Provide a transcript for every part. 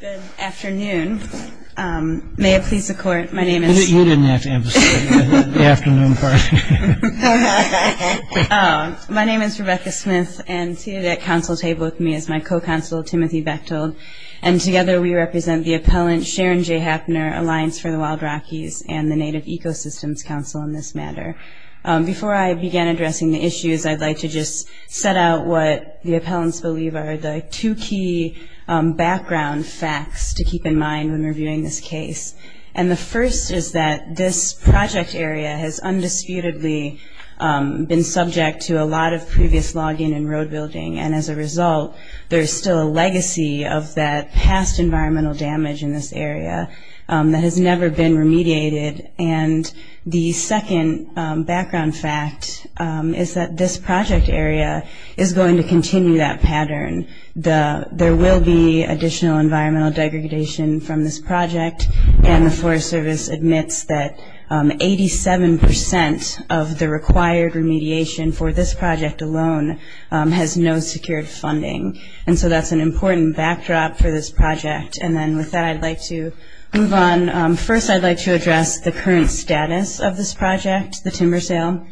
Good afternoon. May it please the court, my name is... You didn't have to emphasize the afternoon part. My name is Rebecca Smith and seated at council table with me is my co-counsel, Timothy Bechtold, and together we represent the appellant Sharon J. Hapner, Alliance for the Wild Rockies, and the Native Ecosystems Council in this matter. Before I begin addressing the issues, I'd like to just set out what the appellants believe are the two key background facts to keep in mind when reviewing this case. And the first is that this project area has undisputedly been subject to a lot of previous log-in and road building, and as a result there is still a legacy of that past environmental damage in this area that has never been remediated. And the second background fact is that this project area is going to continue that pattern. There will be additional environmental degradation from this project, and the Forest Service admits that 87% of the required remediation for this project alone has no secured funding. And so that's an important backdrop for this project. And then with that I'd like to move on. First I'd like to address the current status of this project, the timber sale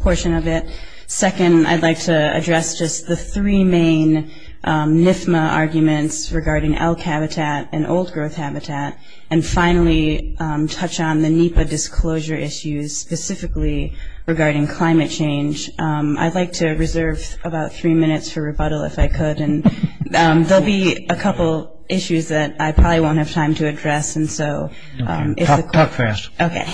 portion of it. Second, I'd like to address just the three main NFMA arguments regarding elk habitat and old growth habitat. And finally, touch on the NEPA disclosure issues specifically regarding climate change. I'd like to reserve about three minutes for rebuttal if I could, and there will be a couple issues that I probably won't have time to address. And so if the court – Talk fast. Okay.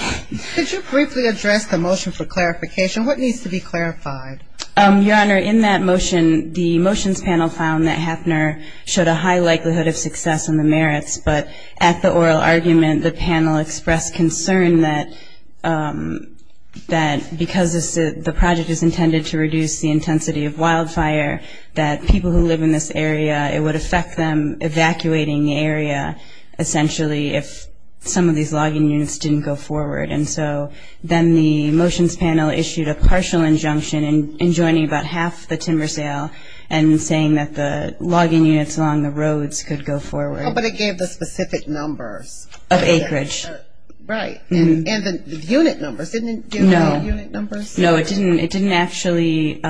Could you briefly address the motion for clarification? What needs to be clarified? Your Honor, in that motion, the motions panel found that Hafner showed a high likelihood of success in the merits, but at the oral argument the panel expressed concern that because the project is intended to reduce the intensity of wildfire, that people who live in this area, it would affect them evacuating the area essentially if some of these logging units didn't go forward. And so then the motions panel issued a partial injunction in joining about half the timber sale and saying that the logging units along the roads could go forward. But it gave the specific numbers. Of acreage. Right. And the unit numbers, didn't it give the unit numbers? No. No, it didn't. It didn't actually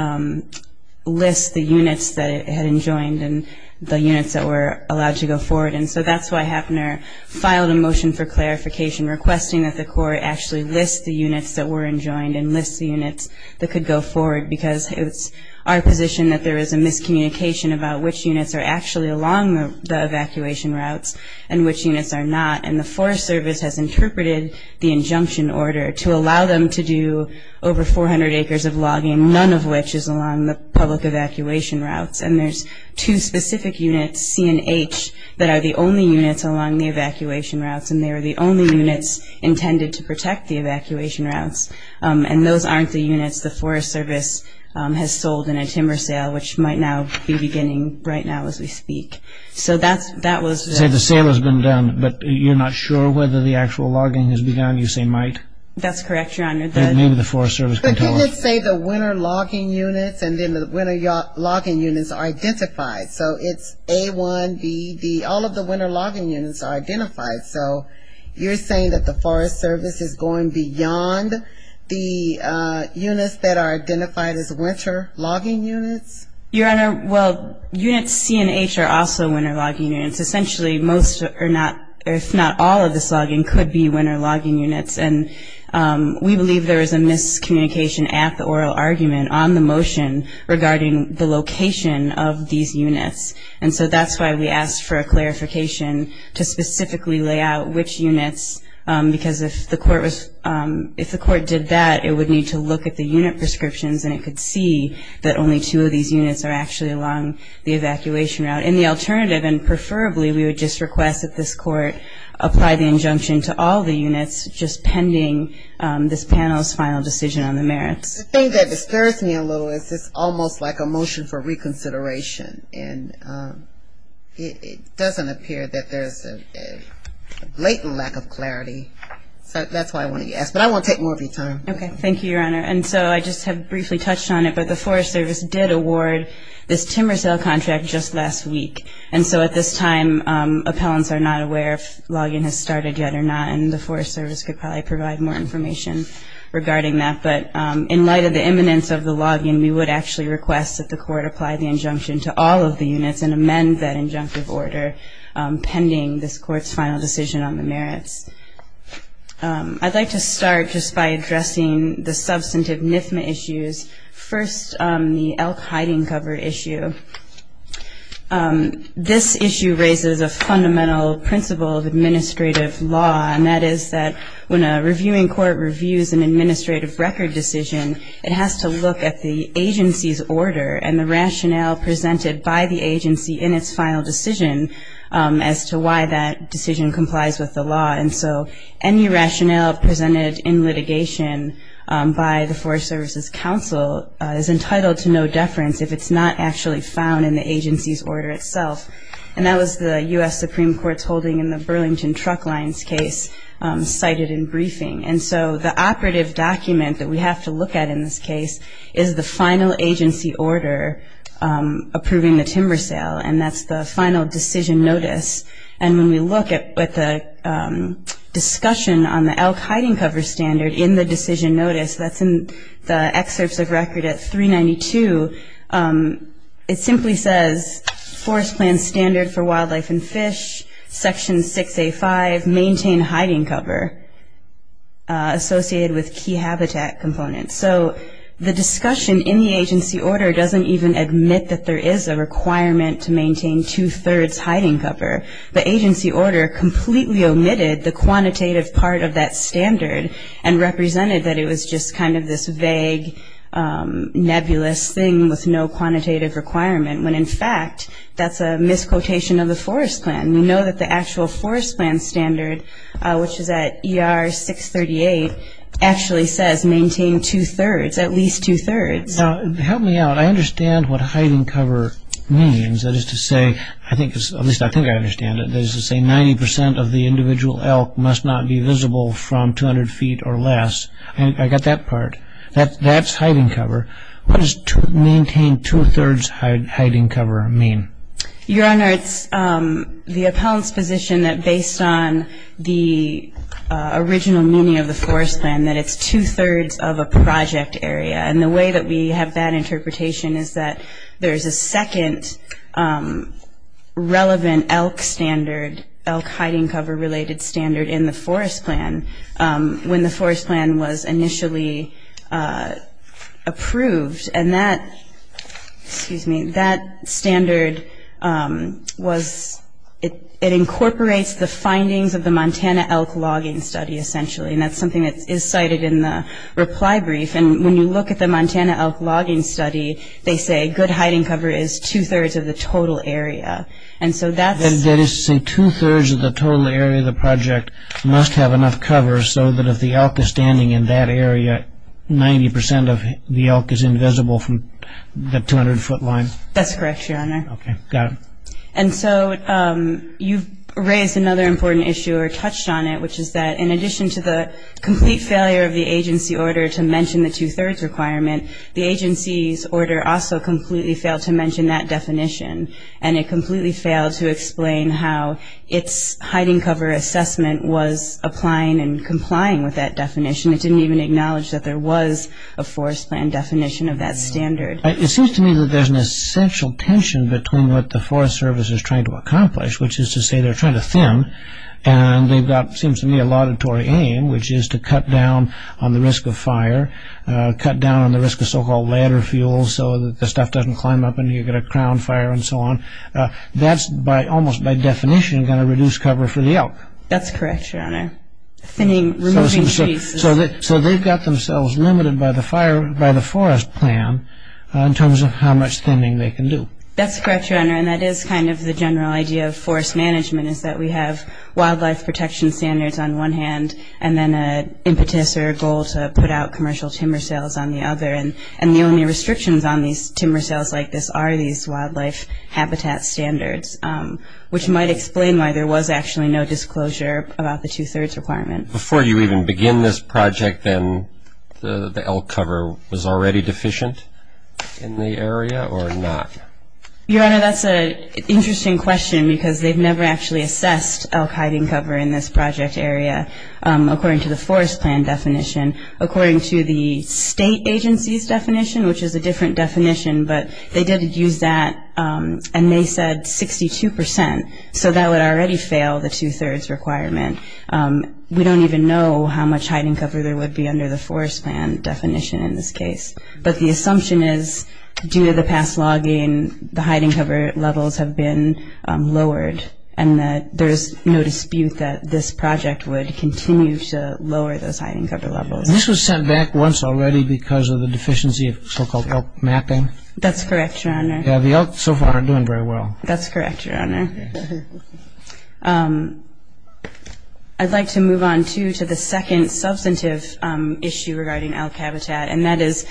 list the units that it had enjoined and the units that were allowed to go forward. And so that's why Hafner filed a motion for clarification, requesting that the court actually list the units that were enjoined and list the units that could go forward, because it's our position that there is a miscommunication about which units are actually along the evacuation routes and which units are not. And the Forest Service has interpreted the injunction order to allow them to do over 400 acres of logging, none of which is along the public evacuation routes. And there's two specific units, C and H, that are the only units along the evacuation routes, and they are the only units intended to protect the evacuation routes. And those aren't the units the Forest Service has sold in a timber sale, which might now be beginning right now as we speak. So that was the... So the sale has been done, but you're not sure whether the actual logging has begun. You say might. That's correct, Your Honor. Maybe the Forest Service can tell us. The units say the winter logging units, and then the winter logging units are identified. So it's A1, B, D, all of the winter logging units are identified. So you're saying that the Forest Service is going beyond the units that are identified as winter logging units? Your Honor, well, units C and H are also winter logging units. Essentially most, if not all, of this logging could be winter logging units. And we believe there is a miscommunication at the oral argument on the motion regarding the location of these units. And so that's why we asked for a clarification to specifically lay out which units, because if the court did that, it would need to look at the unit prescriptions, and it could see that only two of these units are actually along the evacuation route. And the alternative, and preferably, we would just request that this court apply the injunction to all the units, just pending this panel's final decision on the merits. The thing that dispirits me a little is it's almost like a motion for reconsideration. And it doesn't appear that there's a blatant lack of clarity. So that's why I wanted to ask. But I want to take more of your time. Okay. Thank you, Your Honor. And so I just have briefly touched on it, but the Forest Service did award this timber sale contract just last week. And so at this time, appellants are not aware if login has started yet or not, and the Forest Service could probably provide more information regarding that. But in light of the imminence of the login, we would actually request that the court apply the injunction to all of the units and amend that injunctive order pending this court's final decision on the merits. I'd like to start just by addressing the substantive NIFMA issues. First, the elk hiding cover issue. This issue raises a fundamental principle of administrative law, and that is that when a reviewing court reviews an administrative record decision, it has to look at the agency's order and the rationale presented by the agency in its final decision as to why that decision complies with the law. And so any rationale presented in litigation by the Forest Service's counsel is entitled to no deference if it's not actually found in the agency's order itself. And that was the U.S. Supreme Court's holding in the Burlington Truck Lines case cited in briefing. And so the operative document that we have to look at in this case is the final agency order approving the timber sale, and that's the final decision notice. And when we look at the discussion on the elk hiding cover standard in the decision notice, that's in the excerpts of record at 392, it simply says, Forest Plan Standard for Wildlife and Fish, Section 6A.5, maintain hiding cover associated with key habitat components. So the discussion in the agency order doesn't even admit that there is a requirement to maintain two-thirds hiding cover. The agency order completely omitted the quantitative part of that standard and represented that it was just kind of this vague, nebulous thing with no quantitative requirement, when in fact that's a misquotation of the forest plan. We know that the actual forest plan standard, which is at ER 638, actually says maintain two-thirds, at least two-thirds. Now, help me out. I understand what hiding cover means. That is to say, at least I think I understand it, that is to say 90 percent of the individual elk must not be visible from 200 feet or less. I got that part. That's hiding cover. What does maintain two-thirds hiding cover mean? Your Honor, it's the appellant's position that based on the original meaning of the forest plan, that it's two-thirds of a project area. And the way that we have that interpretation is that there is a second relevant elk standard, elk hiding cover-related standard in the forest plan when the forest plan was initially approved. And that standard incorporates the findings of the Montana elk logging study, essentially. And that's something that is cited in the reply brief. And when you look at the Montana elk logging study, they say good hiding cover is two-thirds of the total area. And so that's- That is to say two-thirds of the total area of the project must have enough cover so that if the elk is standing in that area, 90 percent of the elk is invisible from the 200-foot line. That's correct, Your Honor. Okay. Got it. And so you've raised another important issue or touched on it, which is that in addition to the complete failure of the agency order to mention the two-thirds requirement, the agency's order also completely failed to mention that definition. And it completely failed to explain how its hiding cover assessment was applying and complying with that definition. It didn't even acknowledge that there was a forest plan definition of that standard. It seems to me that there's an essential tension between what the Forest Service is trying to accomplish, which is to say they're trying to thin, and they've got, it seems to me, a laudatory aim, which is to cut down on the risk of fire, cut down on the risk of so-called ladder fuel, so that the stuff doesn't climb up and you get a crown fire and so on. That's almost by definition going to reduce cover for the elk. That's correct, Your Honor. Thinning, removing trees. So they've got themselves limited by the forest plan in terms of how much thinning they can do. That's correct, Your Honor, and that is kind of the general idea of forest management, is that we have wildlife protection standards on one hand and then an impetus or a goal to put out commercial timber sales on the other. And the only restrictions on these timber sales like this are these wildlife habitat standards, which might explain why there was actually no disclosure about the two-thirds requirement. Before you even begin this project then, the elk cover was already deficient in the area or not? Your Honor, that's an interesting question because they've never actually assessed elk hiding cover in this project area, according to the forest plan definition. According to the state agency's definition, which is a different definition, but they did use that and they said 62 percent, so that would already fail the two-thirds requirement. We don't even know how much hiding cover there would be under the forest plan definition in this case, but the assumption is due to the past logging, the hiding cover levels have been lowered and that there is no dispute that this project would continue to lower those hiding cover levels. This was sent back once already because of the deficiency of so-called elk mapping? That's correct, Your Honor. Yeah, the elk so far aren't doing very well. That's correct, Your Honor. I'd like to move on, too, to the second substantive issue regarding elk habitat and that is,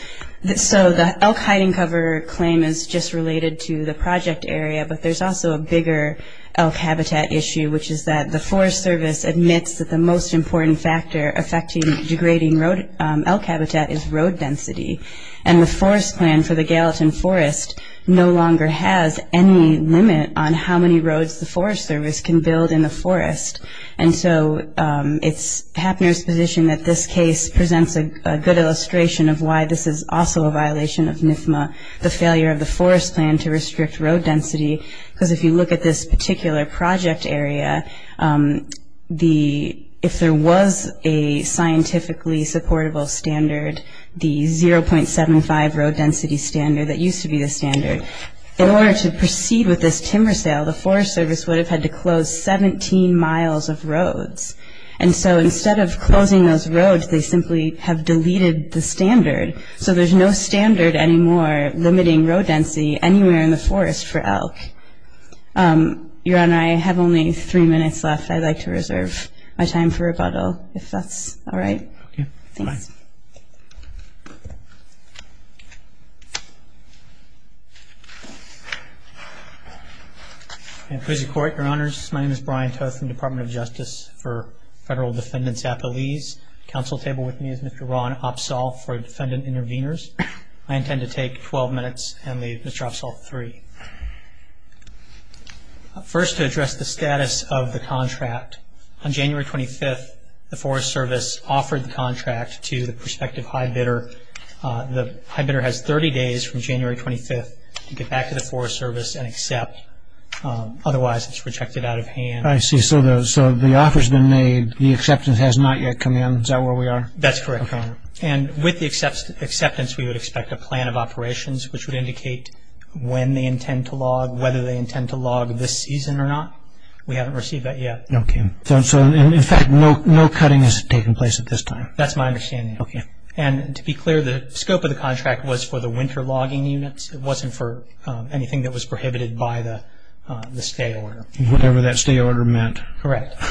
so the elk hiding cover claim is just related to the project area, but there's also a bigger elk habitat issue, which is that the Forest Service admits that the most important factor affecting degrading elk habitat is road density and the forest plan for the Gallatin Forest no longer has any limit on how many roads the Forest Service can build in the forest. And so it's Hapner's position that this case presents a good illustration of why this is also a violation of NFMA, the failure of the forest plan to restrict road density, because if you look at this particular project area, if there was a scientifically supportable standard, the 0.75 road density standard that used to be the standard, in order to proceed with this timber sale, the Forest Service would have had to close 17 miles of roads. And so instead of closing those roads, they simply have deleted the standard. So there's no standard anymore limiting road density anywhere in the forest for elk. Your Honor, I have only three minutes left. I'd like to reserve my time for rebuttal, if that's all right. Okay, fine. Thanks. Please report, Your Honors. My name is Brian Toth from the Department of Justice for Federal Defendant's Appealese. At the council table with me is Mr. Ron Opsahl for Defendant Intervenors. I intend to take 12 minutes and leave Mr. Opsahl three. First, to address the status of the contract, on January 25th, the Forest Service offered the contract to the prospective high bidder. The high bidder has 30 days from January 25th to get back to the Forest Service and accept. Otherwise, it's rejected out of hand. I see. So the offer's been made. The acceptance has not yet come in. Is that where we are? That's correct, Your Honor. And with the acceptance, we would expect a plan of operations, which would indicate when they intend to log, whether they intend to log this season or not. We haven't received that yet. Okay. So, in fact, no cutting has taken place at this time. That's my understanding. Okay. And to be clear, the scope of the contract was for the winter logging units. It wasn't for anything that was prohibited by the stay order. Whatever that stay order meant. Correct.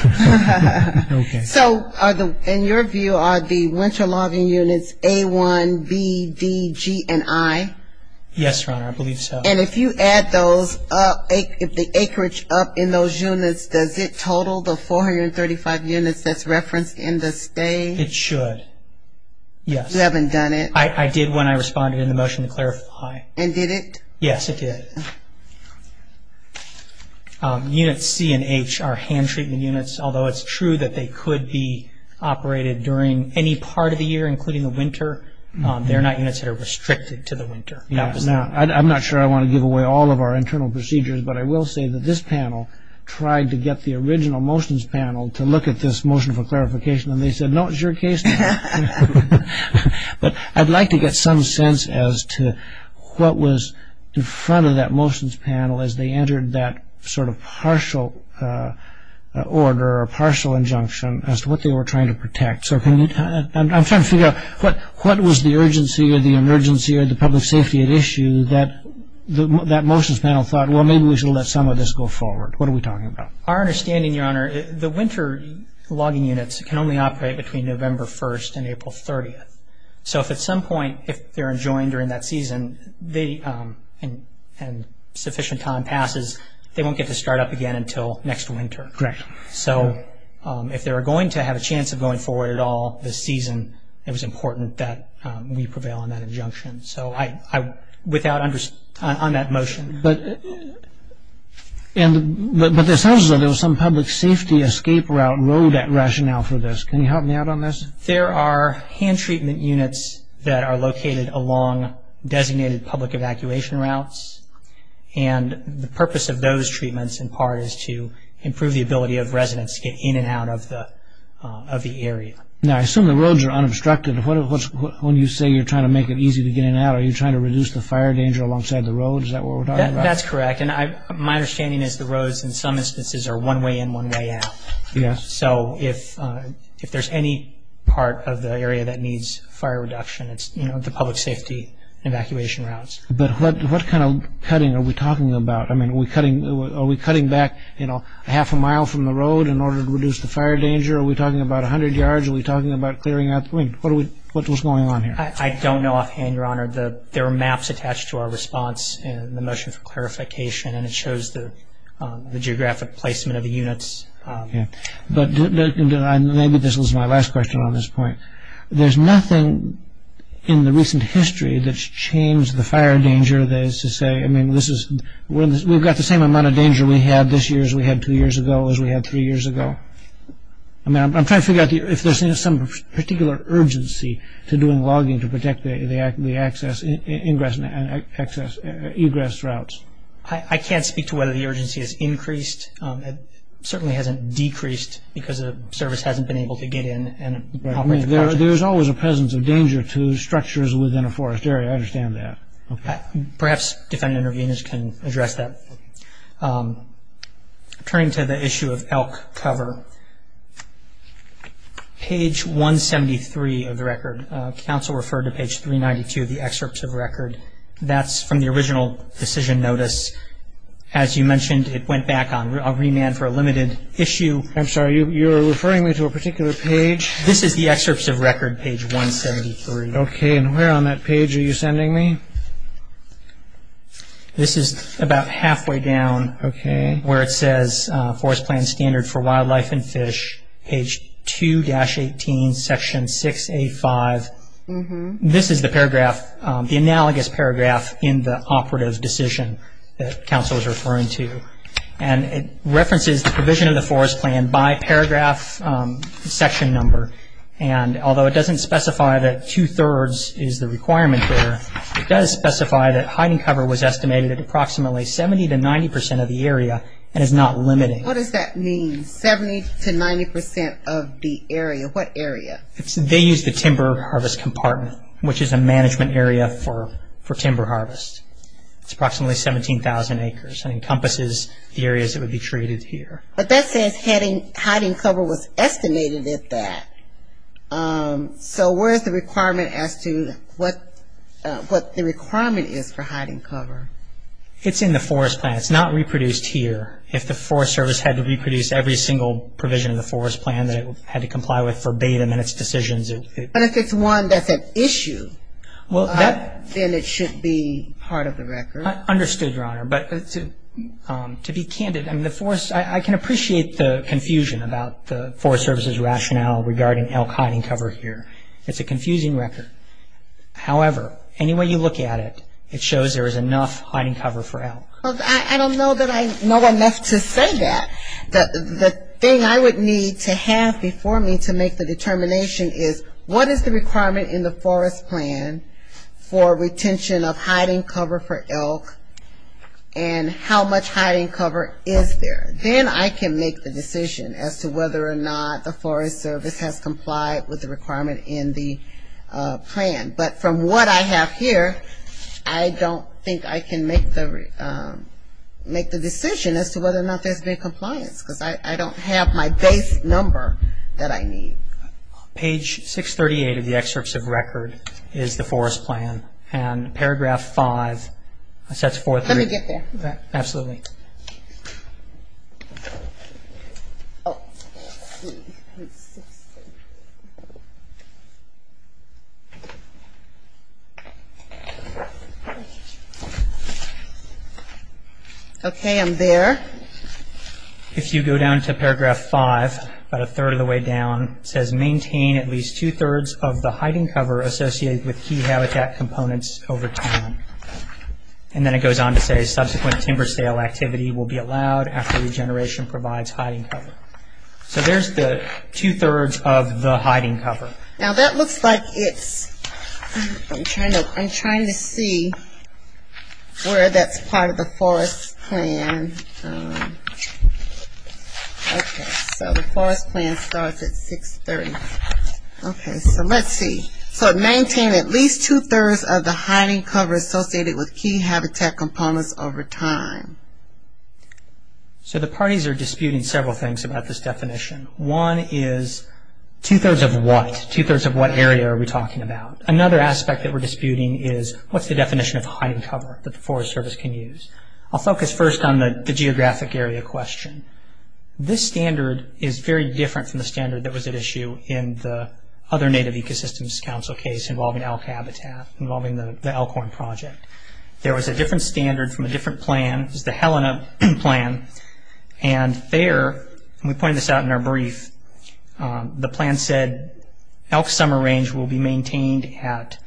Okay. So, in your view, are the winter logging units A1, B, D, G, and I? Yes, Your Honor, I believe so. And if you add the acreage up in those units, does it total the 435 units that's referenced in the stay? It should. Yes. You haven't done it? I did when I responded in the motion to clarify. And did it? Yes, it did. Units C and H are hand-treatment units, although it's true that they could be operated during any part of the year, including the winter. They're not units that are restricted to the winter. I'm not sure I want to give away all of our internal procedures, but I will say that this panel tried to get the original motions panel to look at this motion for clarification, and they said, no, it's your case. But I'd like to get some sense as to what was in front of that motions panel as they entered that sort of partial order or partial injunction as to what they were trying to protect. So I'm trying to figure out what was the urgency or the emergency or the public safety at issue that that motions panel thought, well, maybe we should let some of this go forward. What are we talking about? Our understanding, Your Honor, the winter logging units can only operate between November 1st and April 30th. So if at some point, if they're enjoined during that season and sufficient time passes, they won't get to start up again until next winter. Correct. So if they're going to have a chance of going forward at all this season, it was important that we prevail on that injunction. So I, without, on that motion. But there sounds as though there was some public safety escape route road rationale for this. Can you help me out on this? There are hand treatment units that are located along designated public evacuation routes, and the purpose of those treatments in part is to improve the ability of residents to get in and out of the area. Now, I assume the roads are unobstructed. When you say you're trying to make it easy to get in and out, are you trying to reduce the fire danger alongside the road? Is that what we're talking about? That's correct. And my understanding is the roads in some instances are one way in, one way out. Yes. So if there's any part of the area that needs fire reduction, it's the public safety evacuation routes. But what kind of cutting are we talking about? I mean, are we cutting back, you know, half a mile from the road in order to reduce the fire danger? Are we talking about 100 yards? Are we talking about clearing out the wind? What's going on here? I don't know offhand, Your Honor. There are maps attached to our response in the motion for clarification, and it shows the geographic placement of the units. Okay. But maybe this was my last question on this point. There's nothing in the recent history that's changed the fire danger that is to say, I mean, we've got the same amount of danger we had this year as we had two years ago as we had three years ago. I mean, I'm trying to figure out if there's some particular urgency to doing logging to protect the access and egress routes. I can't speak to whether the urgency has increased. It certainly hasn't decreased because the service hasn't been able to get in and operate the project. I mean, there's always a presence of danger to structures within a forest area. I understand that. Perhaps defendant interveners can address that. Okay. Turning to the issue of elk cover, page 173 of the record. Counsel referred to page 392 of the excerpts of record. That's from the original decision notice. As you mentioned, it went back on. I'll remand for a limited issue. I'm sorry. You're referring me to a particular page? This is the excerpts of record, page 173. Okay. And where on that page are you sending me? This is about halfway down. Okay. Where it says forest plan standard for wildlife and fish, page 2-18, section 6A5. This is the paragraph, the analogous paragraph in the operative decision that counsel is referring to. And it references the provision of the forest plan by paragraph section number. And although it doesn't specify that two-thirds is the requirement there, it does specify that hiding cover was estimated at approximately 70-90% of the area and is not limited. What does that mean, 70-90% of the area? What area? They used the timber harvest compartment, which is a management area for timber harvest. It's approximately 17,000 acres and encompasses the areas that would be treated here. But that says hiding cover was estimated at that. So where is the requirement as to what the requirement is for hiding cover? It's in the forest plan. It's not reproduced here. If the Forest Service had to reproduce every single provision of the forest plan that it had to comply with verbatim in its decisions, it would be. But if it's one that's an issue, then it should be part of the record. Understood, Your Honor. To be candid, I can appreciate the confusion about the Forest Service's rationale regarding elk hiding cover here. It's a confusing record. However, any way you look at it, it shows there is enough hiding cover for elk. I don't know that I know enough to say that. The thing I would need to have before me to make the determination is, what is the requirement in the forest plan for retention of hiding cover for elk, and how much hiding cover is there? Then I can make the decision as to whether or not the Forest Service has complied with the requirement in the plan. But from what I have here, I don't think I can make the decision as to whether or not there's been compliance because I don't have my base number that I need. Page 638 of the excerpts of record is the forest plan. And paragraph 5, that's 438. Let me get there. Absolutely. Okay, I'm there. If you go down to paragraph 5, about a third of the way down, it says, maintain at least two-thirds of the hiding cover associated with key habitat components over time. And then it goes on to say, subsequent timber sale activity will be allowed after regeneration provides hiding cover. So there's the two-thirds of the hiding cover. Now that looks like it's, I'm trying to see where that's part of the forest plan. Okay, so the forest plan starts at 630. Okay, so let's see. So maintain at least two-thirds of the hiding cover associated with key habitat components over time. So the parties are disputing several things about this definition. One is two-thirds of what? Two-thirds of what area are we talking about? Another aspect that we're disputing is what's the definition of hiding cover that the Forest Service can use? I'll focus first on the geographic area question. This standard is very different from the standard that was at issue in the other Native Ecosystems Council case involving elk habitat, involving the Elkhorn Project. There was a different standard from a different plan. This is the Helena plan. And there, and we pointed this out in our brief, the plan said, elk summer range will be maintained at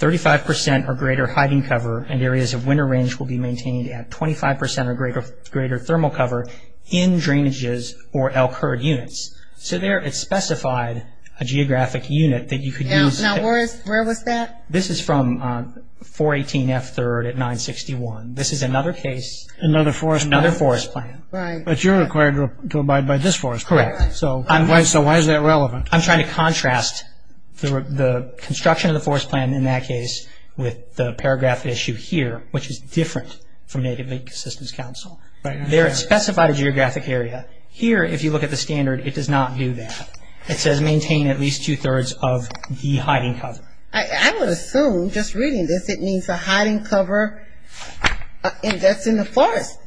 35% or greater hiding cover and areas of winter range will be maintained at 25% or greater thermal cover in drainages or elk herd units. So there it specified a geographic unit that you could use. Now where is, where was that? This is from 418F3rd at 961. This is another case. Another forest plan. Another forest plan. Right. But you're required to abide by this forest plan. Correct. So why is that relevant? I'm trying to contrast the construction of the forest plan in that case with the paragraph issue here, which is different from Native Ecosystems Council. There it specified a geographic area. Here, if you look at the standard, it does not do that. It says maintain at least two-thirds of the hiding cover. I would assume, just reading this, it means a hiding cover that's in the forest.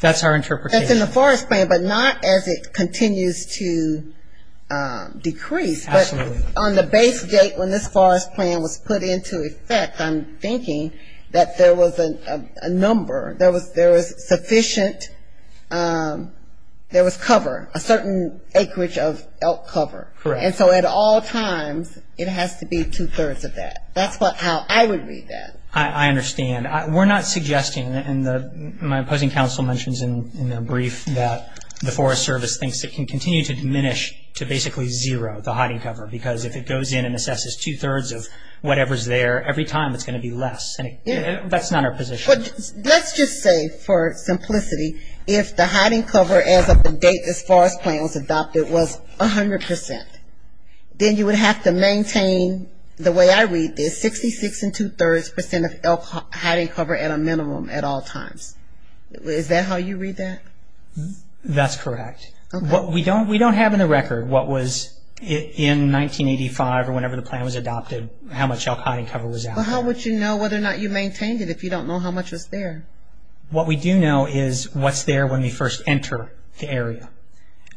That's our interpretation. That's in the forest plan, but not as it continues to decrease. Absolutely. On the base date when this forest plan was put into effect, I'm thinking that there was a number, there was sufficient, there was cover, a certain acreage of elk cover. Correct. And so at all times, it has to be two-thirds of that. That's how I would read that. I understand. We're not suggesting, and my opposing counsel mentions in their brief, that the Forest Service thinks it can continue to diminish to basically zero, the hiding cover, because if it goes in and assesses two-thirds of whatever's there, every time it's going to be less. That's not our position. Let's just say, for simplicity, if the hiding cover as of the date this forest plan was adopted was 100 percent, then you would have to maintain, the way I read this, 66 and two-thirds percent of elk hiding cover at a minimum at all times. Is that how you read that? That's correct. Okay. What we don't have in the record, what was in 1985 or whenever the plan was adopted, how much elk hiding cover was out. Well, how would you know whether or not you maintained it if you don't know how much was there? What we do know is what's there when we first enter the area.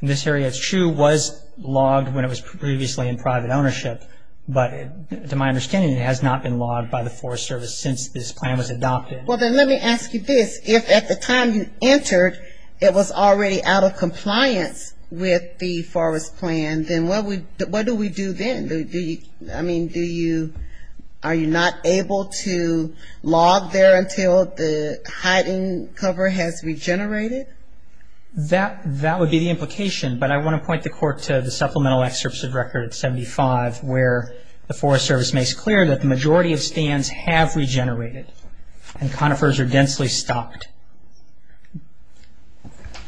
This area, it's true, was logged when it was previously in private ownership, but to my understanding it has not been logged by the Forest Service since this plan was adopted. Well, then let me ask you this. If at the time you entered it was already out of compliance with the forest plan, then what do we do then? I mean, are you not able to log there until the hiding cover has regenerated? That would be the implication, but I want to point the court to the supplemental excerpts of record 75 where the Forest Service makes clear that the majority of stands have regenerated and conifers are densely stocked.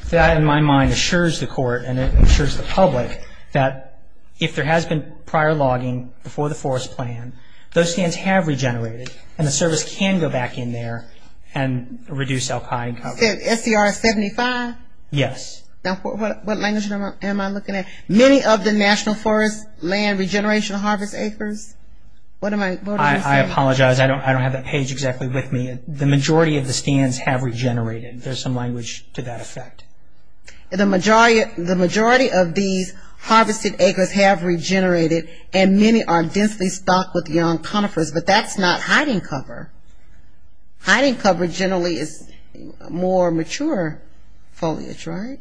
That, in my mind, assures the court and it assures the public that if there has been prior logging before the forest plan, those stands have regenerated and the service can go back in there and reduce elk hiding cover. You said SCR 75? Yes. Now, what language am I looking at? Many of the National Forest Land Regeneration Harvest Acres? What am I saying? I apologize. I don't have that page exactly with me. The majority of the stands have regenerated. There's some language to that effect. The majority of these harvested acres have regenerated and many are densely stocked with young conifers, but that's not hiding cover. Hiding cover generally is more mature foliage, right?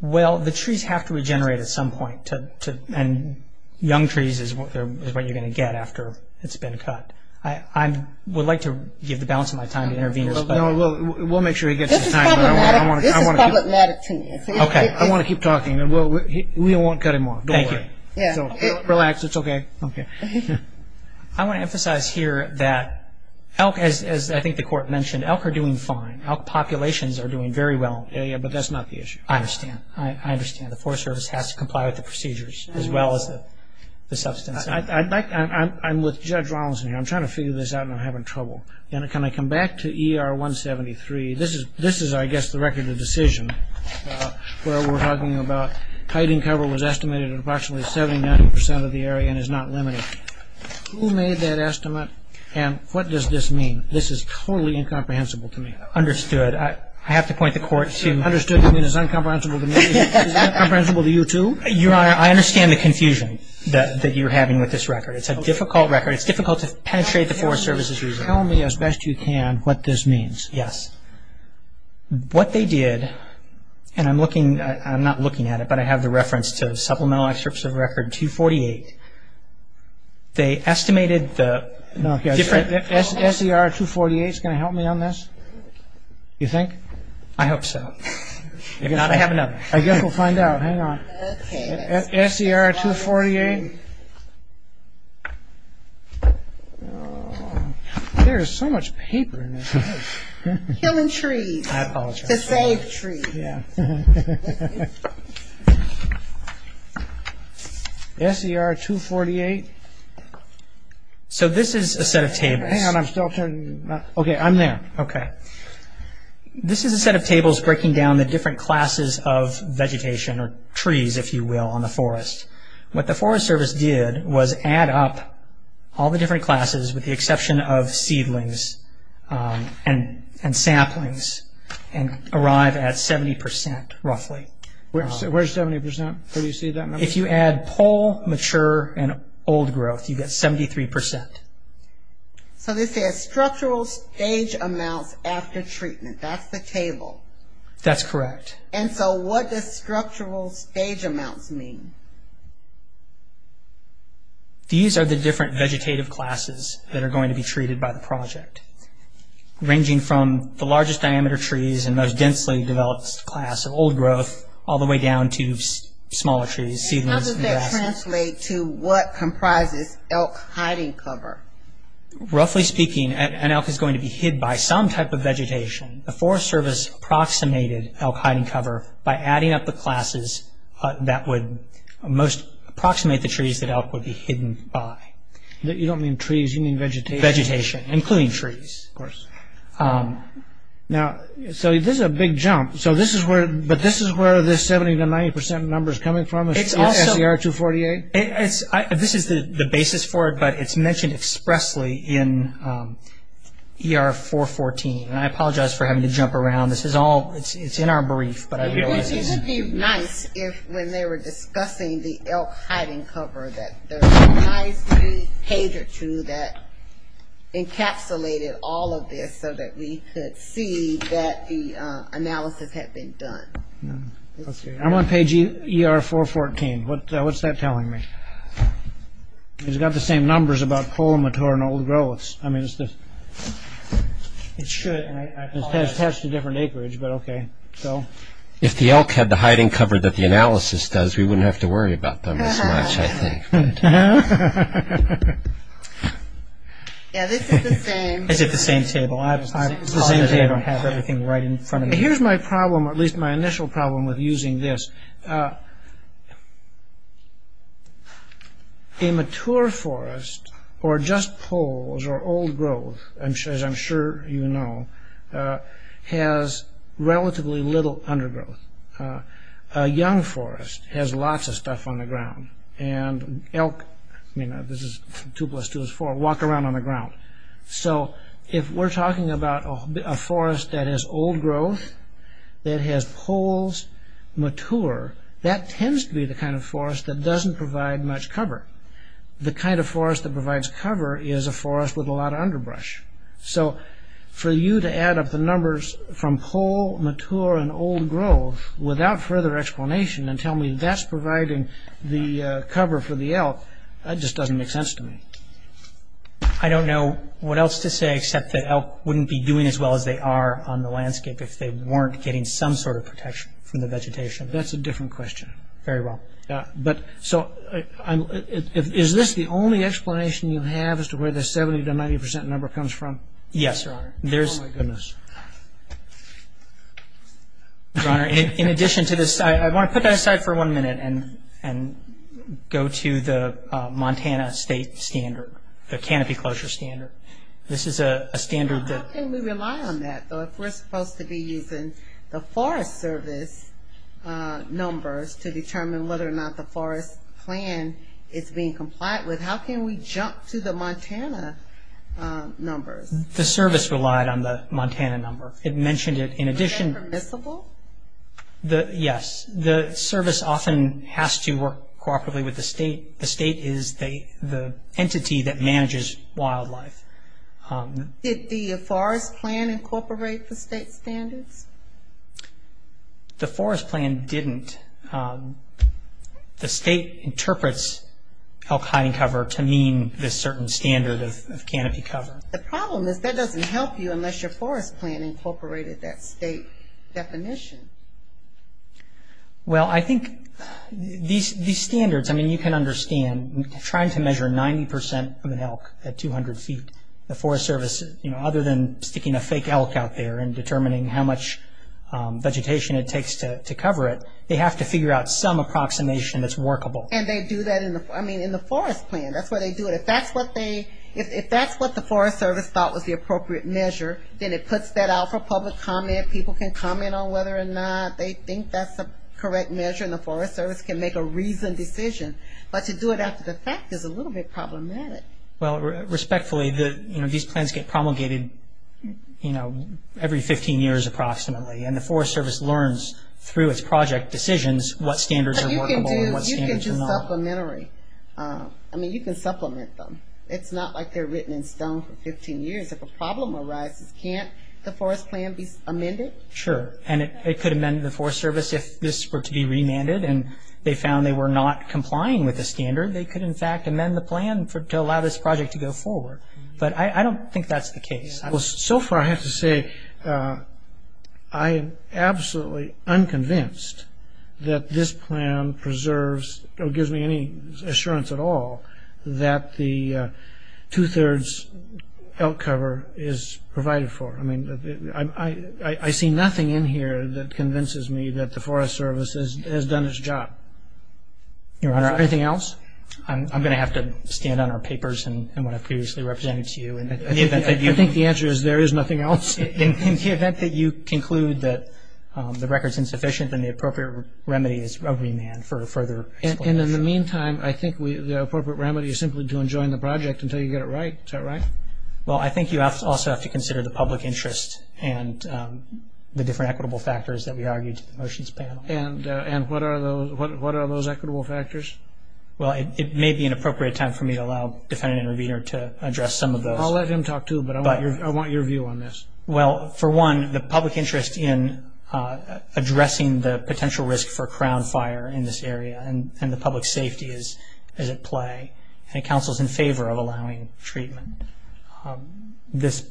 Well, the trees have to regenerate at some point and young trees is what you're going to get after it's been cut. I would like to give the balance of my time to intervene. We'll make sure he gets his time. This is public matter to me. Okay. I want to keep talking. We won't cut him off. Don't worry. Relax. It's okay. I want to emphasize here that elk, as I think the court mentioned, elk are doing fine. Elk populations are doing very well, but that's not the issue. I understand. I understand. The Forest Service has to comply with the procedures as well as the substance. I'm with Judge Rawlinson here. I'm trying to figure this out and I'm having trouble. Can I come back to ER 173? This is, I guess, the record of the decision where we're talking about hiding cover was estimated at approximately 79% of the area and is not limited. Who made that estimate and what does this mean? This is totally incomprehensible to me. Understood. I have to point the court to you. Understood. You mean it's incomprehensible to me? Is it incomprehensible to you too? Your Honor, I understand the confusion that you're having with this record. It's a difficult record. It's difficult to penetrate the Forest Service's reasoning. Tell me as best you can what this means. Yes. What they did, and I'm looking, I'm not looking at it, but I have the reference to Supplemental Excerpts of Record 248. They estimated the different- No. SCR 248 is going to help me on this? You think? I hope so. If not, I have another. I guess we'll find out. Hang on. Okay. SCR 248. There is so much paper in this. Killing trees. I apologize. To save trees. Yeah. SCR 248. So this is a set of tables. Hang on. I'm still turning. Okay. I'm there. Okay. This is a set of tables breaking down the different classes of vegetation, or trees if you will, on the forest. What the Forest Service did was add up all the different classes with the exception of seedlings and saplings and arrive at 70% roughly. Where's 70%? Where do you see that number? If you add pole, mature, and old growth, you get 73%. So this says structural stage amounts after treatment. That's the table. That's correct. And so what does structural stage amounts mean? These are the different vegetative classes that are going to be treated by the project, ranging from the largest diameter trees and most densely developed class of old growth all the way down to smaller trees, seedlings and grasses. How does that translate to what comprises elk hiding cover? Roughly speaking, an elk is going to be hid by some type of vegetation. The Forest Service approximated elk hiding cover by adding up the classes that would most approximate the trees that elk would be hidden by. You don't mean trees, you mean vegetation. Vegetation, including trees. Of course. Now, so this is a big jump, but this is where the 70% to 90% number is coming from? It's also- SCR-248? This is the basis for it, but it's mentioned expressly in ER-414, and I apologize for having to jump around. It's in our brief, but I realize it's- It would be nice if, when they were discussing the elk hiding cover, that there was a nice big page or two that encapsulated all of this so that we could see that the analysis had been done. I'm on page ER-414. What's that telling me? It's got the same numbers about Polomotor and old growths. I mean, it should, and it's attached to a different acreage, but okay. If the elk had the hiding cover that the analysis does, we wouldn't have to worry about them as much, I think. Yeah, this is the same- It's at the same table. It's the same table. I have everything right in front of me. Here's my problem, or at least my initial problem with using this. A mature forest or just poles or old growth, as I'm sure you know, has relatively little undergrowth. A young forest has lots of stuff on the ground, and elk- I mean, this is 2 plus 2 is 4- walk around on the ground. So if we're talking about a forest that has old growth, that has poles, mature, that tends to be the kind of forest that doesn't provide much cover. The kind of forest that provides cover is a forest with a lot of underbrush. So for you to add up the numbers from pole, mature, and old growth without further explanation and tell me that's providing the cover for the elk, that just doesn't make sense to me. I don't know what else to say, except that elk wouldn't be doing as well as they are on the landscape if they weren't getting some sort of protection from the vegetation. That's a different question. Very well. But, so, is this the only explanation you have as to where the 70 to 90 percent number comes from? Yes. Oh my goodness. Your Honor, in addition to this, I want to put that aside for one minute and go to the Montana state standard, the canopy closure standard. This is a standard that- How can we rely on that, though, if we're supposed to be using the Forest Service numbers to determine whether or not the forest plan is being complied with? How can we jump to the Montana numbers? The service relied on the Montana number. It mentioned it. In addition- Is that permissible? Yes. The service often has to work cooperatively with the state. The state is the entity that manages wildlife. Did the forest plan incorporate the state standards? The forest plan didn't. The state interprets elk hiding cover to mean this certain standard of canopy cover. The problem is that doesn't help you unless your forest plan incorporated that state definition. Well, I think these standards, I mean, you can understand, trying to measure 90 percent of an elk at 200 feet, the Forest Service, other than sticking a fake elk out there and determining how much vegetation it takes to cover it, they have to figure out some approximation that's workable. And they do that in the forest plan. That's why they do it. If that's what the Forest Service thought was the appropriate measure, then it puts that out for public comment. People can comment on whether or not they think that's the correct measure, and the Forest Service can make a reasoned decision. But to do it after the fact is a little bit problematic. Well, respectfully, these plans get promulgated every 15 years approximately, and the Forest Service learns through its project decisions what standards are workable and what standards are not. But you can do supplementary. I mean, you can supplement them. It's not like they're written in stone for 15 years. If a problem arises, can't the forest plan be amended? Sure, and it could amend the Forest Service if this were to be remanded, and they found they were not complying with the standard, they could in fact amend the plan to allow this project to go forward. But I don't think that's the case. Well, so far I have to say I am absolutely unconvinced that this plan preserves or gives me any assurance at all that the two-thirds outcover is provided for. I mean, I see nothing in here that convinces me that the Forest Service has done its job. Your Honor. Anything else? I'm going to have to stand on our papers and what I've previously represented to you. I think the answer is there is nothing else. In the event that you conclude that the record is insufficient and the appropriate remedy is remand for further explanation. And in the meantime, I think the appropriate remedy is simply to enjoin the project until you get it right. Is that right? Well, I think you also have to consider the public interest and the different equitable factors that we argued in the motions panel. And what are those equitable factors? Well, it may be an appropriate time for me to allow Defendant Intervenor to address some of those. I'll let him talk too, but I want your view on this. Well, for one, the public interest in addressing the potential risk for crown fire in this area and the public safety as it play, and the counsel's in favor of allowing treatment. This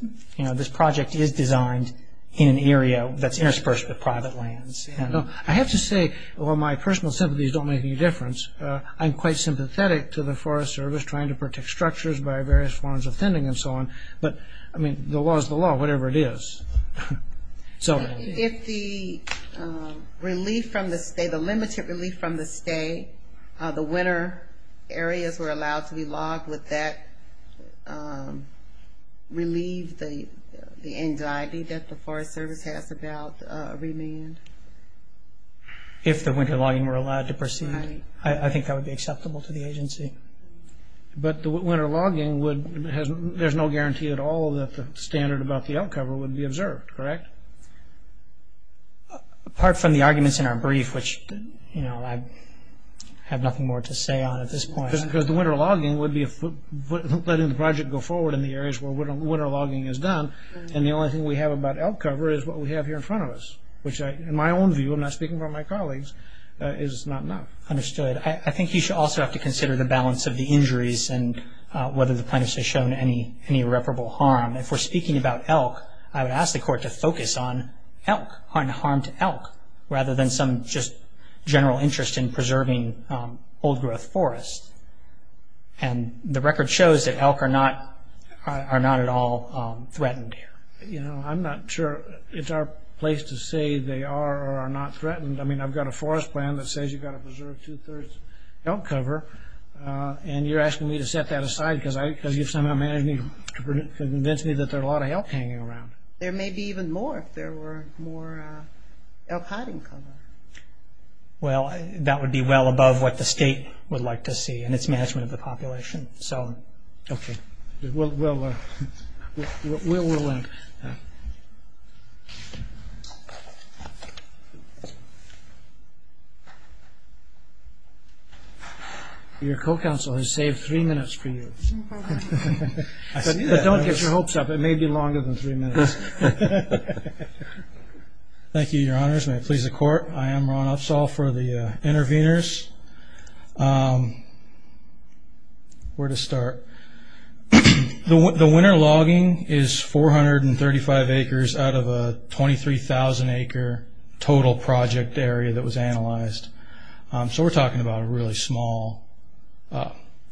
project is designed in an area that's interspersed with private lands. I have to say, while my personal sympathies don't make any difference, I'm quite sympathetic to the Forest Service trying to protect structures by various forms of fending and so on. But, I mean, the law is the law, whatever it is. If the relief from the state, the limited relief from the state, the winter areas were allowed to be logged, would that relieve the anxiety that the Forest Service has about remand? If the winter logging were allowed to proceed. Right. I think that would be acceptable to the agency. But the winter logging would, there's no guarantee at all that the standard about the outcover would be observed, correct? Apart from the arguments in our brief, which, you know, I have nothing more to say on at this point. Because the winter logging would be letting the project go forward in the areas where winter logging is done, and the only thing we have about outcover is what we have here in front of us, which in my own view, I'm not speaking for my colleagues, is it's not enough. Understood. I think you should also have to consider the balance of the injuries and whether the plaintiffs have shown any irreparable harm. If we're speaking about elk, I would ask the court to focus on elk, on harm to elk, rather than some just general interest in preserving old-growth forests. And the record shows that elk are not at all threatened here. You know, I'm not sure it's our place to say they are or are not threatened. I mean, I've got a forest plan that says you've got to preserve two-thirds elk cover, and you're asking me to set that aside because you've somehow managed to convince me that there are a lot of elk hanging around. There may be even more if there were more elk hiding cover. Well, that would be well above what the state would like to see in its management of the population. So, okay. We'll link. Your co-counsel has saved three minutes for you. Don't get your hopes up. It may be longer than three minutes. Thank you, Your Honors. May it please the court. I am Ron Upsall for the interveners. Where to start? The winter logging is 435 acres out of a 23,000-acre total project area that was analyzed. So we're talking about a really small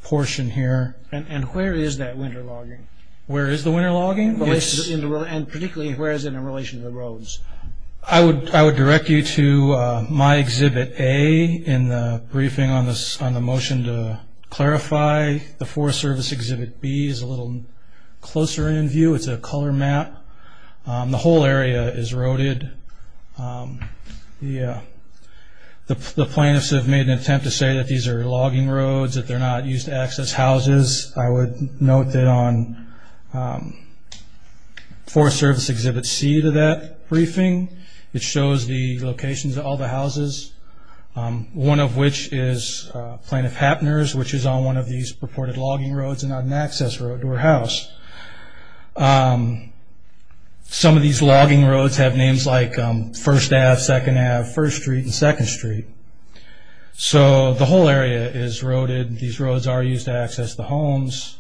portion here. And where is that winter logging? Where is the winter logging? And particularly, where is it in relation to the roads? I would direct you to my Exhibit A in the briefing on the motion to clarify. The Forest Service Exhibit B is a little closer in view. It's a color map. The whole area is roaded. The plaintiffs have made an attempt to say that these are logging roads, that they're not used to access houses. I would note that on Forest Service Exhibit C to that briefing, it shows the locations of all the houses, one of which is Plaintiff Hapner's, which is on one of these purported logging roads and not an access road to her house. Some of these logging roads have names like First Ave, Second Ave, First Street, and Second Street. So the whole area is roaded. These roads are used to access the homes.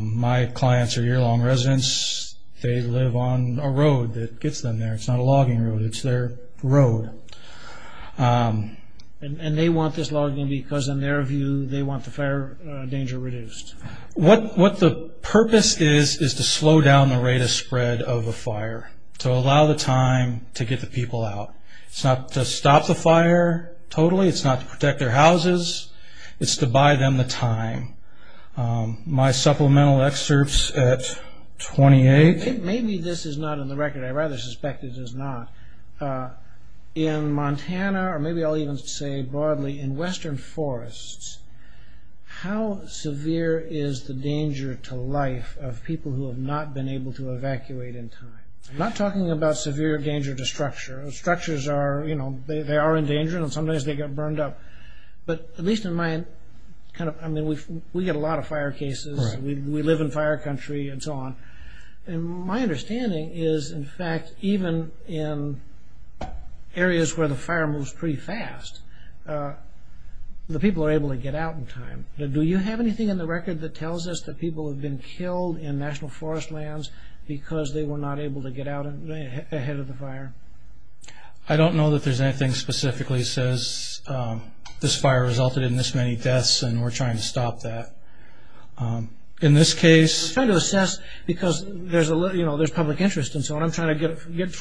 My clients are year-long residents. They live on a road that gets them there. It's not a logging road. It's their road. And they want this logging because, in their view, they want the fire danger reduced. What the purpose is is to slow down the rate of spread of the fire, to allow the time to get the people out. It's not to stop the fire totally. It's not to protect their houses. It's to buy them the time. My supplemental excerpts at 28. Maybe this is not in the record. I rather suspect it is not. In Montana, or maybe I'll even say broadly in western forests, how severe is the danger to life of people who have not been able to evacuate in time? I'm not talking about severe danger to structure. Structures are, you know, they are endangered, and sometimes they get burned up. But at least in my kind of, I mean, we get a lot of fire cases. We live in fire country and so on. And my understanding is, in fact, even in areas where the fire moves pretty fast, the people are able to get out in time. Do you have anything in the record that tells us that people have been killed in national forest lands because they were not able to get out ahead of the fire? I don't know that there's anything specifically says, this fire resulted in this many deaths and we're trying to stop that. In this case... We're trying to assess because there's public interest and so on. I'm trying to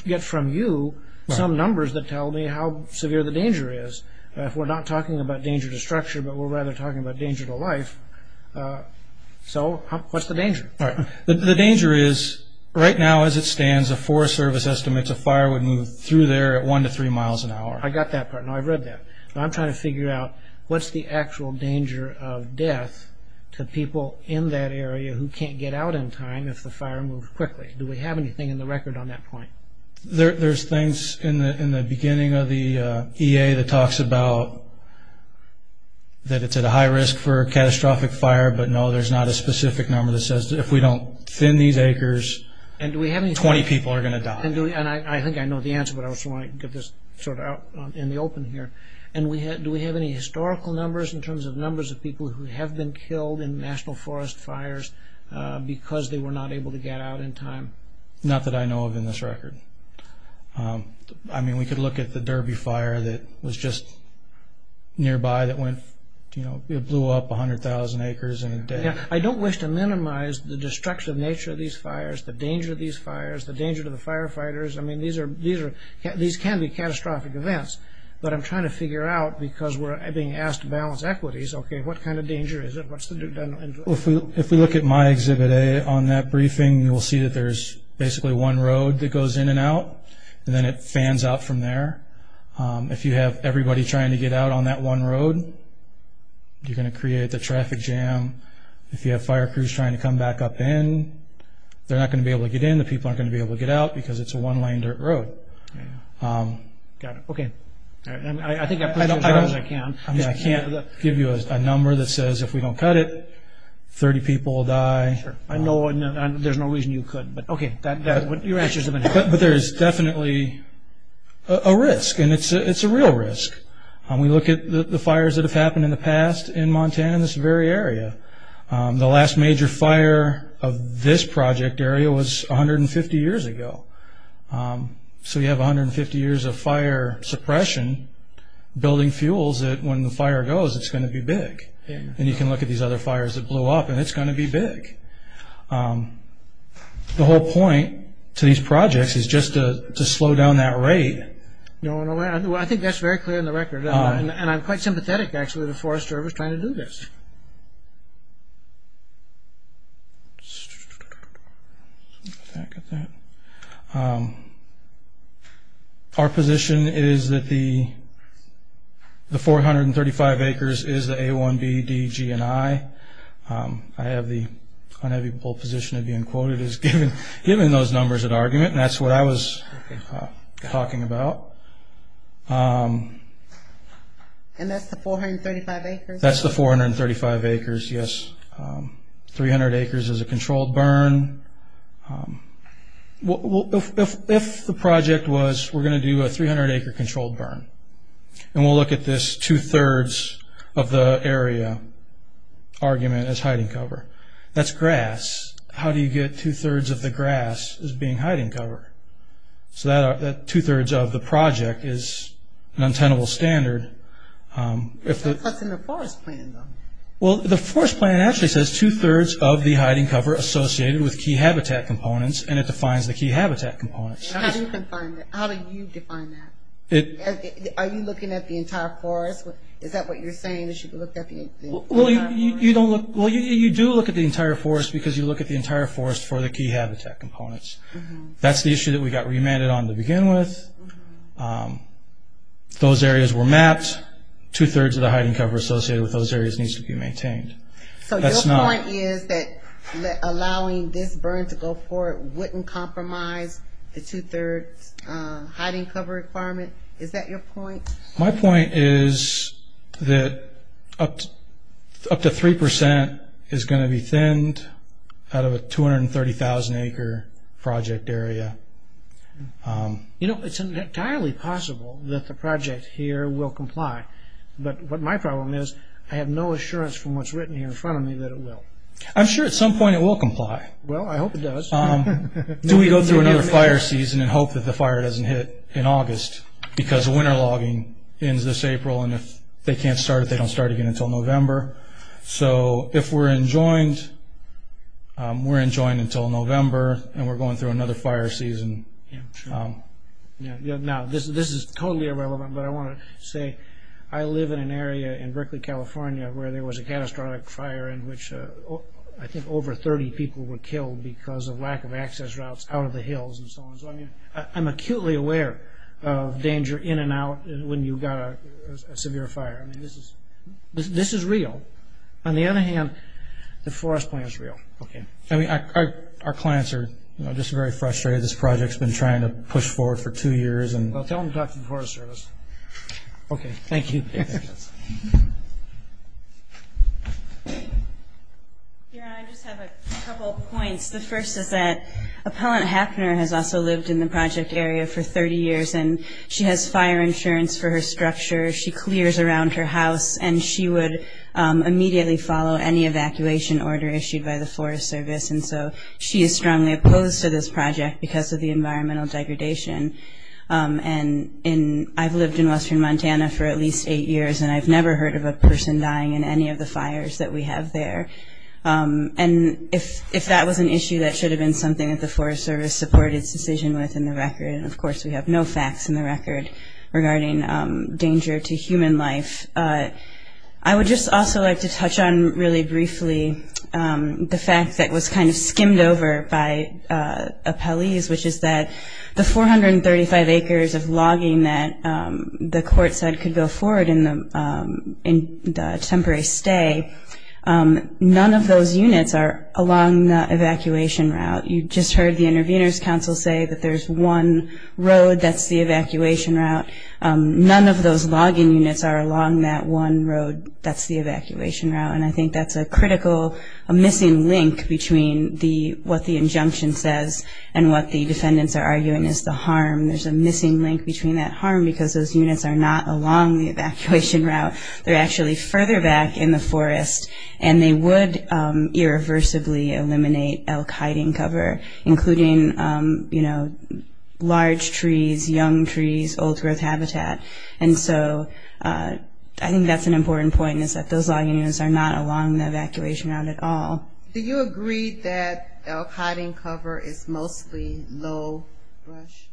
get from you some numbers that tell me how severe the danger is. If we're not talking about danger to structure, but we're rather talking about danger to life. So, what's the danger? The danger is, right now as it stands, the Forest Service estimates a fire would move through there at one to three miles an hour. I got that part. No, I read that. I'm trying to figure out what's the actual danger of death to people in that area who can't get out in time if the fire moves quickly. Do we have anything in the record on that point? There's things in the beginning of the EA that talks about that it's at a high risk for a catastrophic fire, but no, there's not a specific number that says, if we don't thin these acres, 20 people are going to die. I think I know the answer, but I also want to give this sort of out in the open here. Do we have any historical numbers in terms of numbers of people who have been killed in national forest fires because they were not able to get out in time? Not that I know of in this record. I mean, we could look at the Derby fire that was just nearby that blew up 100,000 acres in a day. I don't wish to minimize the destructive nature of these fires, the danger of these fires, the danger to the firefighters. I mean, these can be catastrophic events, but I'm trying to figure out, because we're being asked to balance equities, okay, what kind of danger is it? If we look at my Exhibit A on that briefing, you will see that there's basically one road that goes in and out, and then it fans out from there. If you have everybody trying to get out on that one road, you're going to create the traffic jam. If you have fire crews trying to come back up in, they're not going to be able to get in, the people aren't going to be able to get out because it's a one-lane dirt road. Got it, okay. I think I put you as far as I can. I mean, I can't give you a number that says if we don't cut it, 30 people will die. Sure, I know, and there's no reason you couldn't. But, okay, your answers have been helpful. But there is definitely a risk, and it's a real risk. We look at the fires that have happened in the past in Montana, this very area. The last major fire of this project area was 150 years ago. So you have 150 years of fire suppression building fuels that when the fire goes, it's going to be big. And you can look at these other fires that blew up, and it's going to be big. The whole point to these projects is just to slow down that rate. I think that's very clear in the record. And I'm quite sympathetic, actually, to the Forest Service trying to do this. Get back at that. Our position is that the 435 acres is the A, 1B, D, G, and I. I have the unavoidable position of being quoted as given those numbers at argument, and that's what I was talking about. And that's the 435 acres? That's the 435 acres, yes. 300 acres is a controlled burn. If the project was, we're going to do a 300-acre controlled burn, and we'll look at this two-thirds of the area argument as hiding cover. That's grass. How do you get two-thirds of the grass as being hiding cover? So that two-thirds of the project is an untenable standard. That's in the forest plan, though. Well, the forest plan actually says two-thirds of the hiding cover associated with key habitat components, and it defines the key habitat components. How do you define that? Are you looking at the entire forest? Is that what you're saying, that you look at the entire forest? Well, you do look at the entire forest because you look at the entire forest for the key habitat components. That's the issue that we got remanded on to begin with. Those areas were mapped. That two-thirds of the hiding cover associated with those areas needs to be maintained. So your point is that allowing this burn to go forward wouldn't compromise the two-thirds hiding cover requirement? Is that your point? My point is that up to 3% is going to be thinned out of a 230,000-acre project area. You know, it's entirely possible that the project here will comply, but my problem is I have no assurance from what's written here in front of me that it will. I'm sure at some point it will comply. Well, I hope it does. Do we go through another fire season and hope that the fire doesn't hit in August because winter logging ends this April, and if they can't start it, they don't start it again until November? So if we're enjoined, we're enjoined until November, and we're going through another fire season. Now, this is totally irrelevant, but I want to say I live in an area in Berkeley, California, where there was a catastrophic fire in which I think over 30 people were killed because of lack of access routes out of the hills and so on. So I'm acutely aware of danger in and out when you've got a severe fire. This is real. On the other hand, the forest plan is real. Our clients are just very frustrated. This project has been trying to push forward for two years. Well, tell them about the Forest Service. Okay. Thank you. I just have a couple points. The first is that Appellant Hafner has also lived in the project area for 30 years, and she has fire insurance for her structure. She clears around her house, and she would immediately follow any evacuation order issued by the Forest Service. And so she is strongly opposed to this project because of the environmental degradation. And I've lived in western Montana for at least eight years, and I've never heard of a person dying in any of the fires that we have there. And if that was an issue, that should have been something that the Forest Service supported its decision with in the record. And, of course, we have no facts in the record regarding danger to human life. I would just also like to touch on really briefly the fact that was kind of skimmed over by appellees, which is that the 435 acres of logging that the court said could go forward in the temporary stay, none of those units are along the evacuation route. You just heard the Intervenors Council say that there's one road that's the evacuation route. None of those logging units are along that one road that's the evacuation route, and I think that's a critical missing link between what the injunction says and what the defendants are arguing is the harm. There's a missing link between that harm because those units are not along the evacuation route. They're actually further back in the forest, and they would irreversibly eliminate elk hiding cover, including, you know, large trees, young trees, old growth habitat. And so I think that's an important point is that those logging units are not along the evacuation route at all. Do you agree that elk hiding cover is mostly low brush?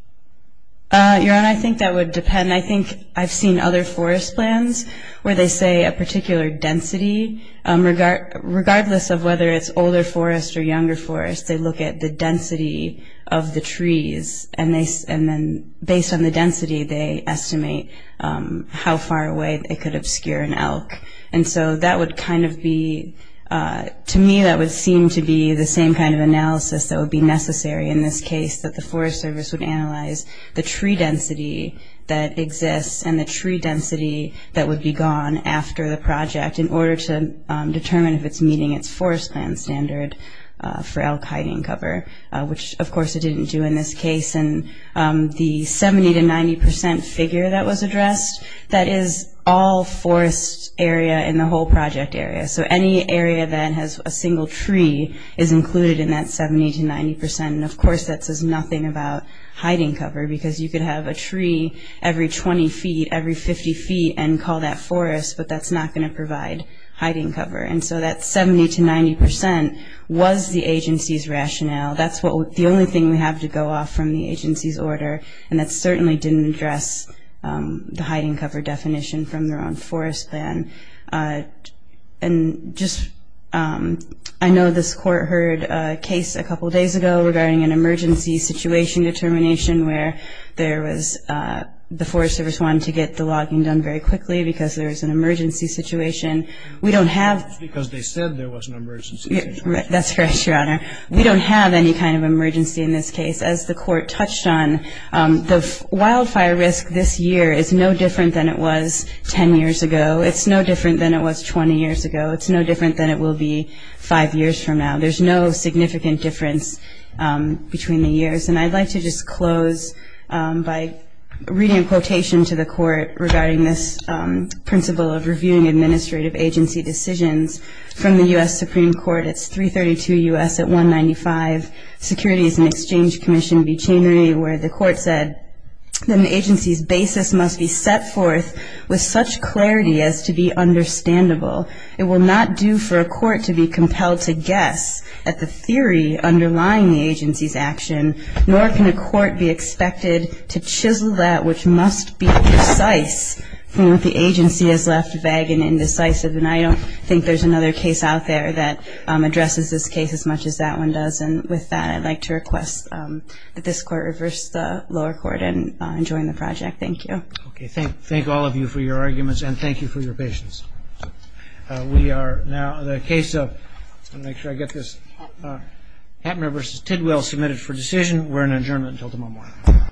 Your Honor, I think that would depend. I think I've seen other forest plans where they say a particular density, regardless of whether it's older forest or younger forest, they look at the density of the trees, and then based on the density, they estimate how far away it could obscure an elk. And so that would kind of be, to me, that would seem to be the same kind of analysis that would be necessary in this case, that the Forest Service would analyze the tree density that exists and the tree density that would be gone after the project in order to determine if it's meeting its forest plan standard for elk hiding cover, which, of course, it didn't do in this case. And the 70% to 90% figure that was addressed, that is all forest area in the whole project area. So any area that has a single tree is included in that 70% to 90%. And, of course, that says nothing about hiding cover because you could have a tree every 20 feet, every 50 feet, and call that forest, but that's not going to provide hiding cover. And so that 70% to 90% was the agency's rationale. That's the only thing we have to go off from the agency's order, and that certainly didn't address the hiding cover definition from their own forest plan. And just, I know this court heard a case a couple days ago regarding an emergency situation determination where there was, the Forest Service wanted to get the logging done very quickly because there was an emergency situation. We don't have... Because they said there was an emergency situation. That's correct, Your Honor. We don't have any kind of emergency in this case. As the court touched on, the wildfire risk this year is no different than it was 10 years ago. It's no different than it was 20 years ago. It's no different than it will be five years from now. There's no significant difference between the years. And I'd like to just close by reading a quotation to the court regarding this principle of reviewing administrative agency decisions from the U.S. Supreme Court. It's 332 U.S. at 195, Securities and Exchange Commission v. Chainery, where the court said, Then the agency's basis must be set forth with such clarity as to be understandable. It will not do for a court to be compelled to guess at the theory underlying the agency's action, nor can a court be expected to chisel that which must be precise from what the agency has left vague and indecisive. And I don't think there's another case out there that addresses this case as much as that one does. And with that, I'd like to request that this court reverse the lower court and join the project. Thank you. Okay. Thank all of you for your arguments, and thank you for your patience. We are now in a case of, let me make sure I get this, Hattner v. Tidwell submitted for decision. We're in adjournment until tomorrow morning.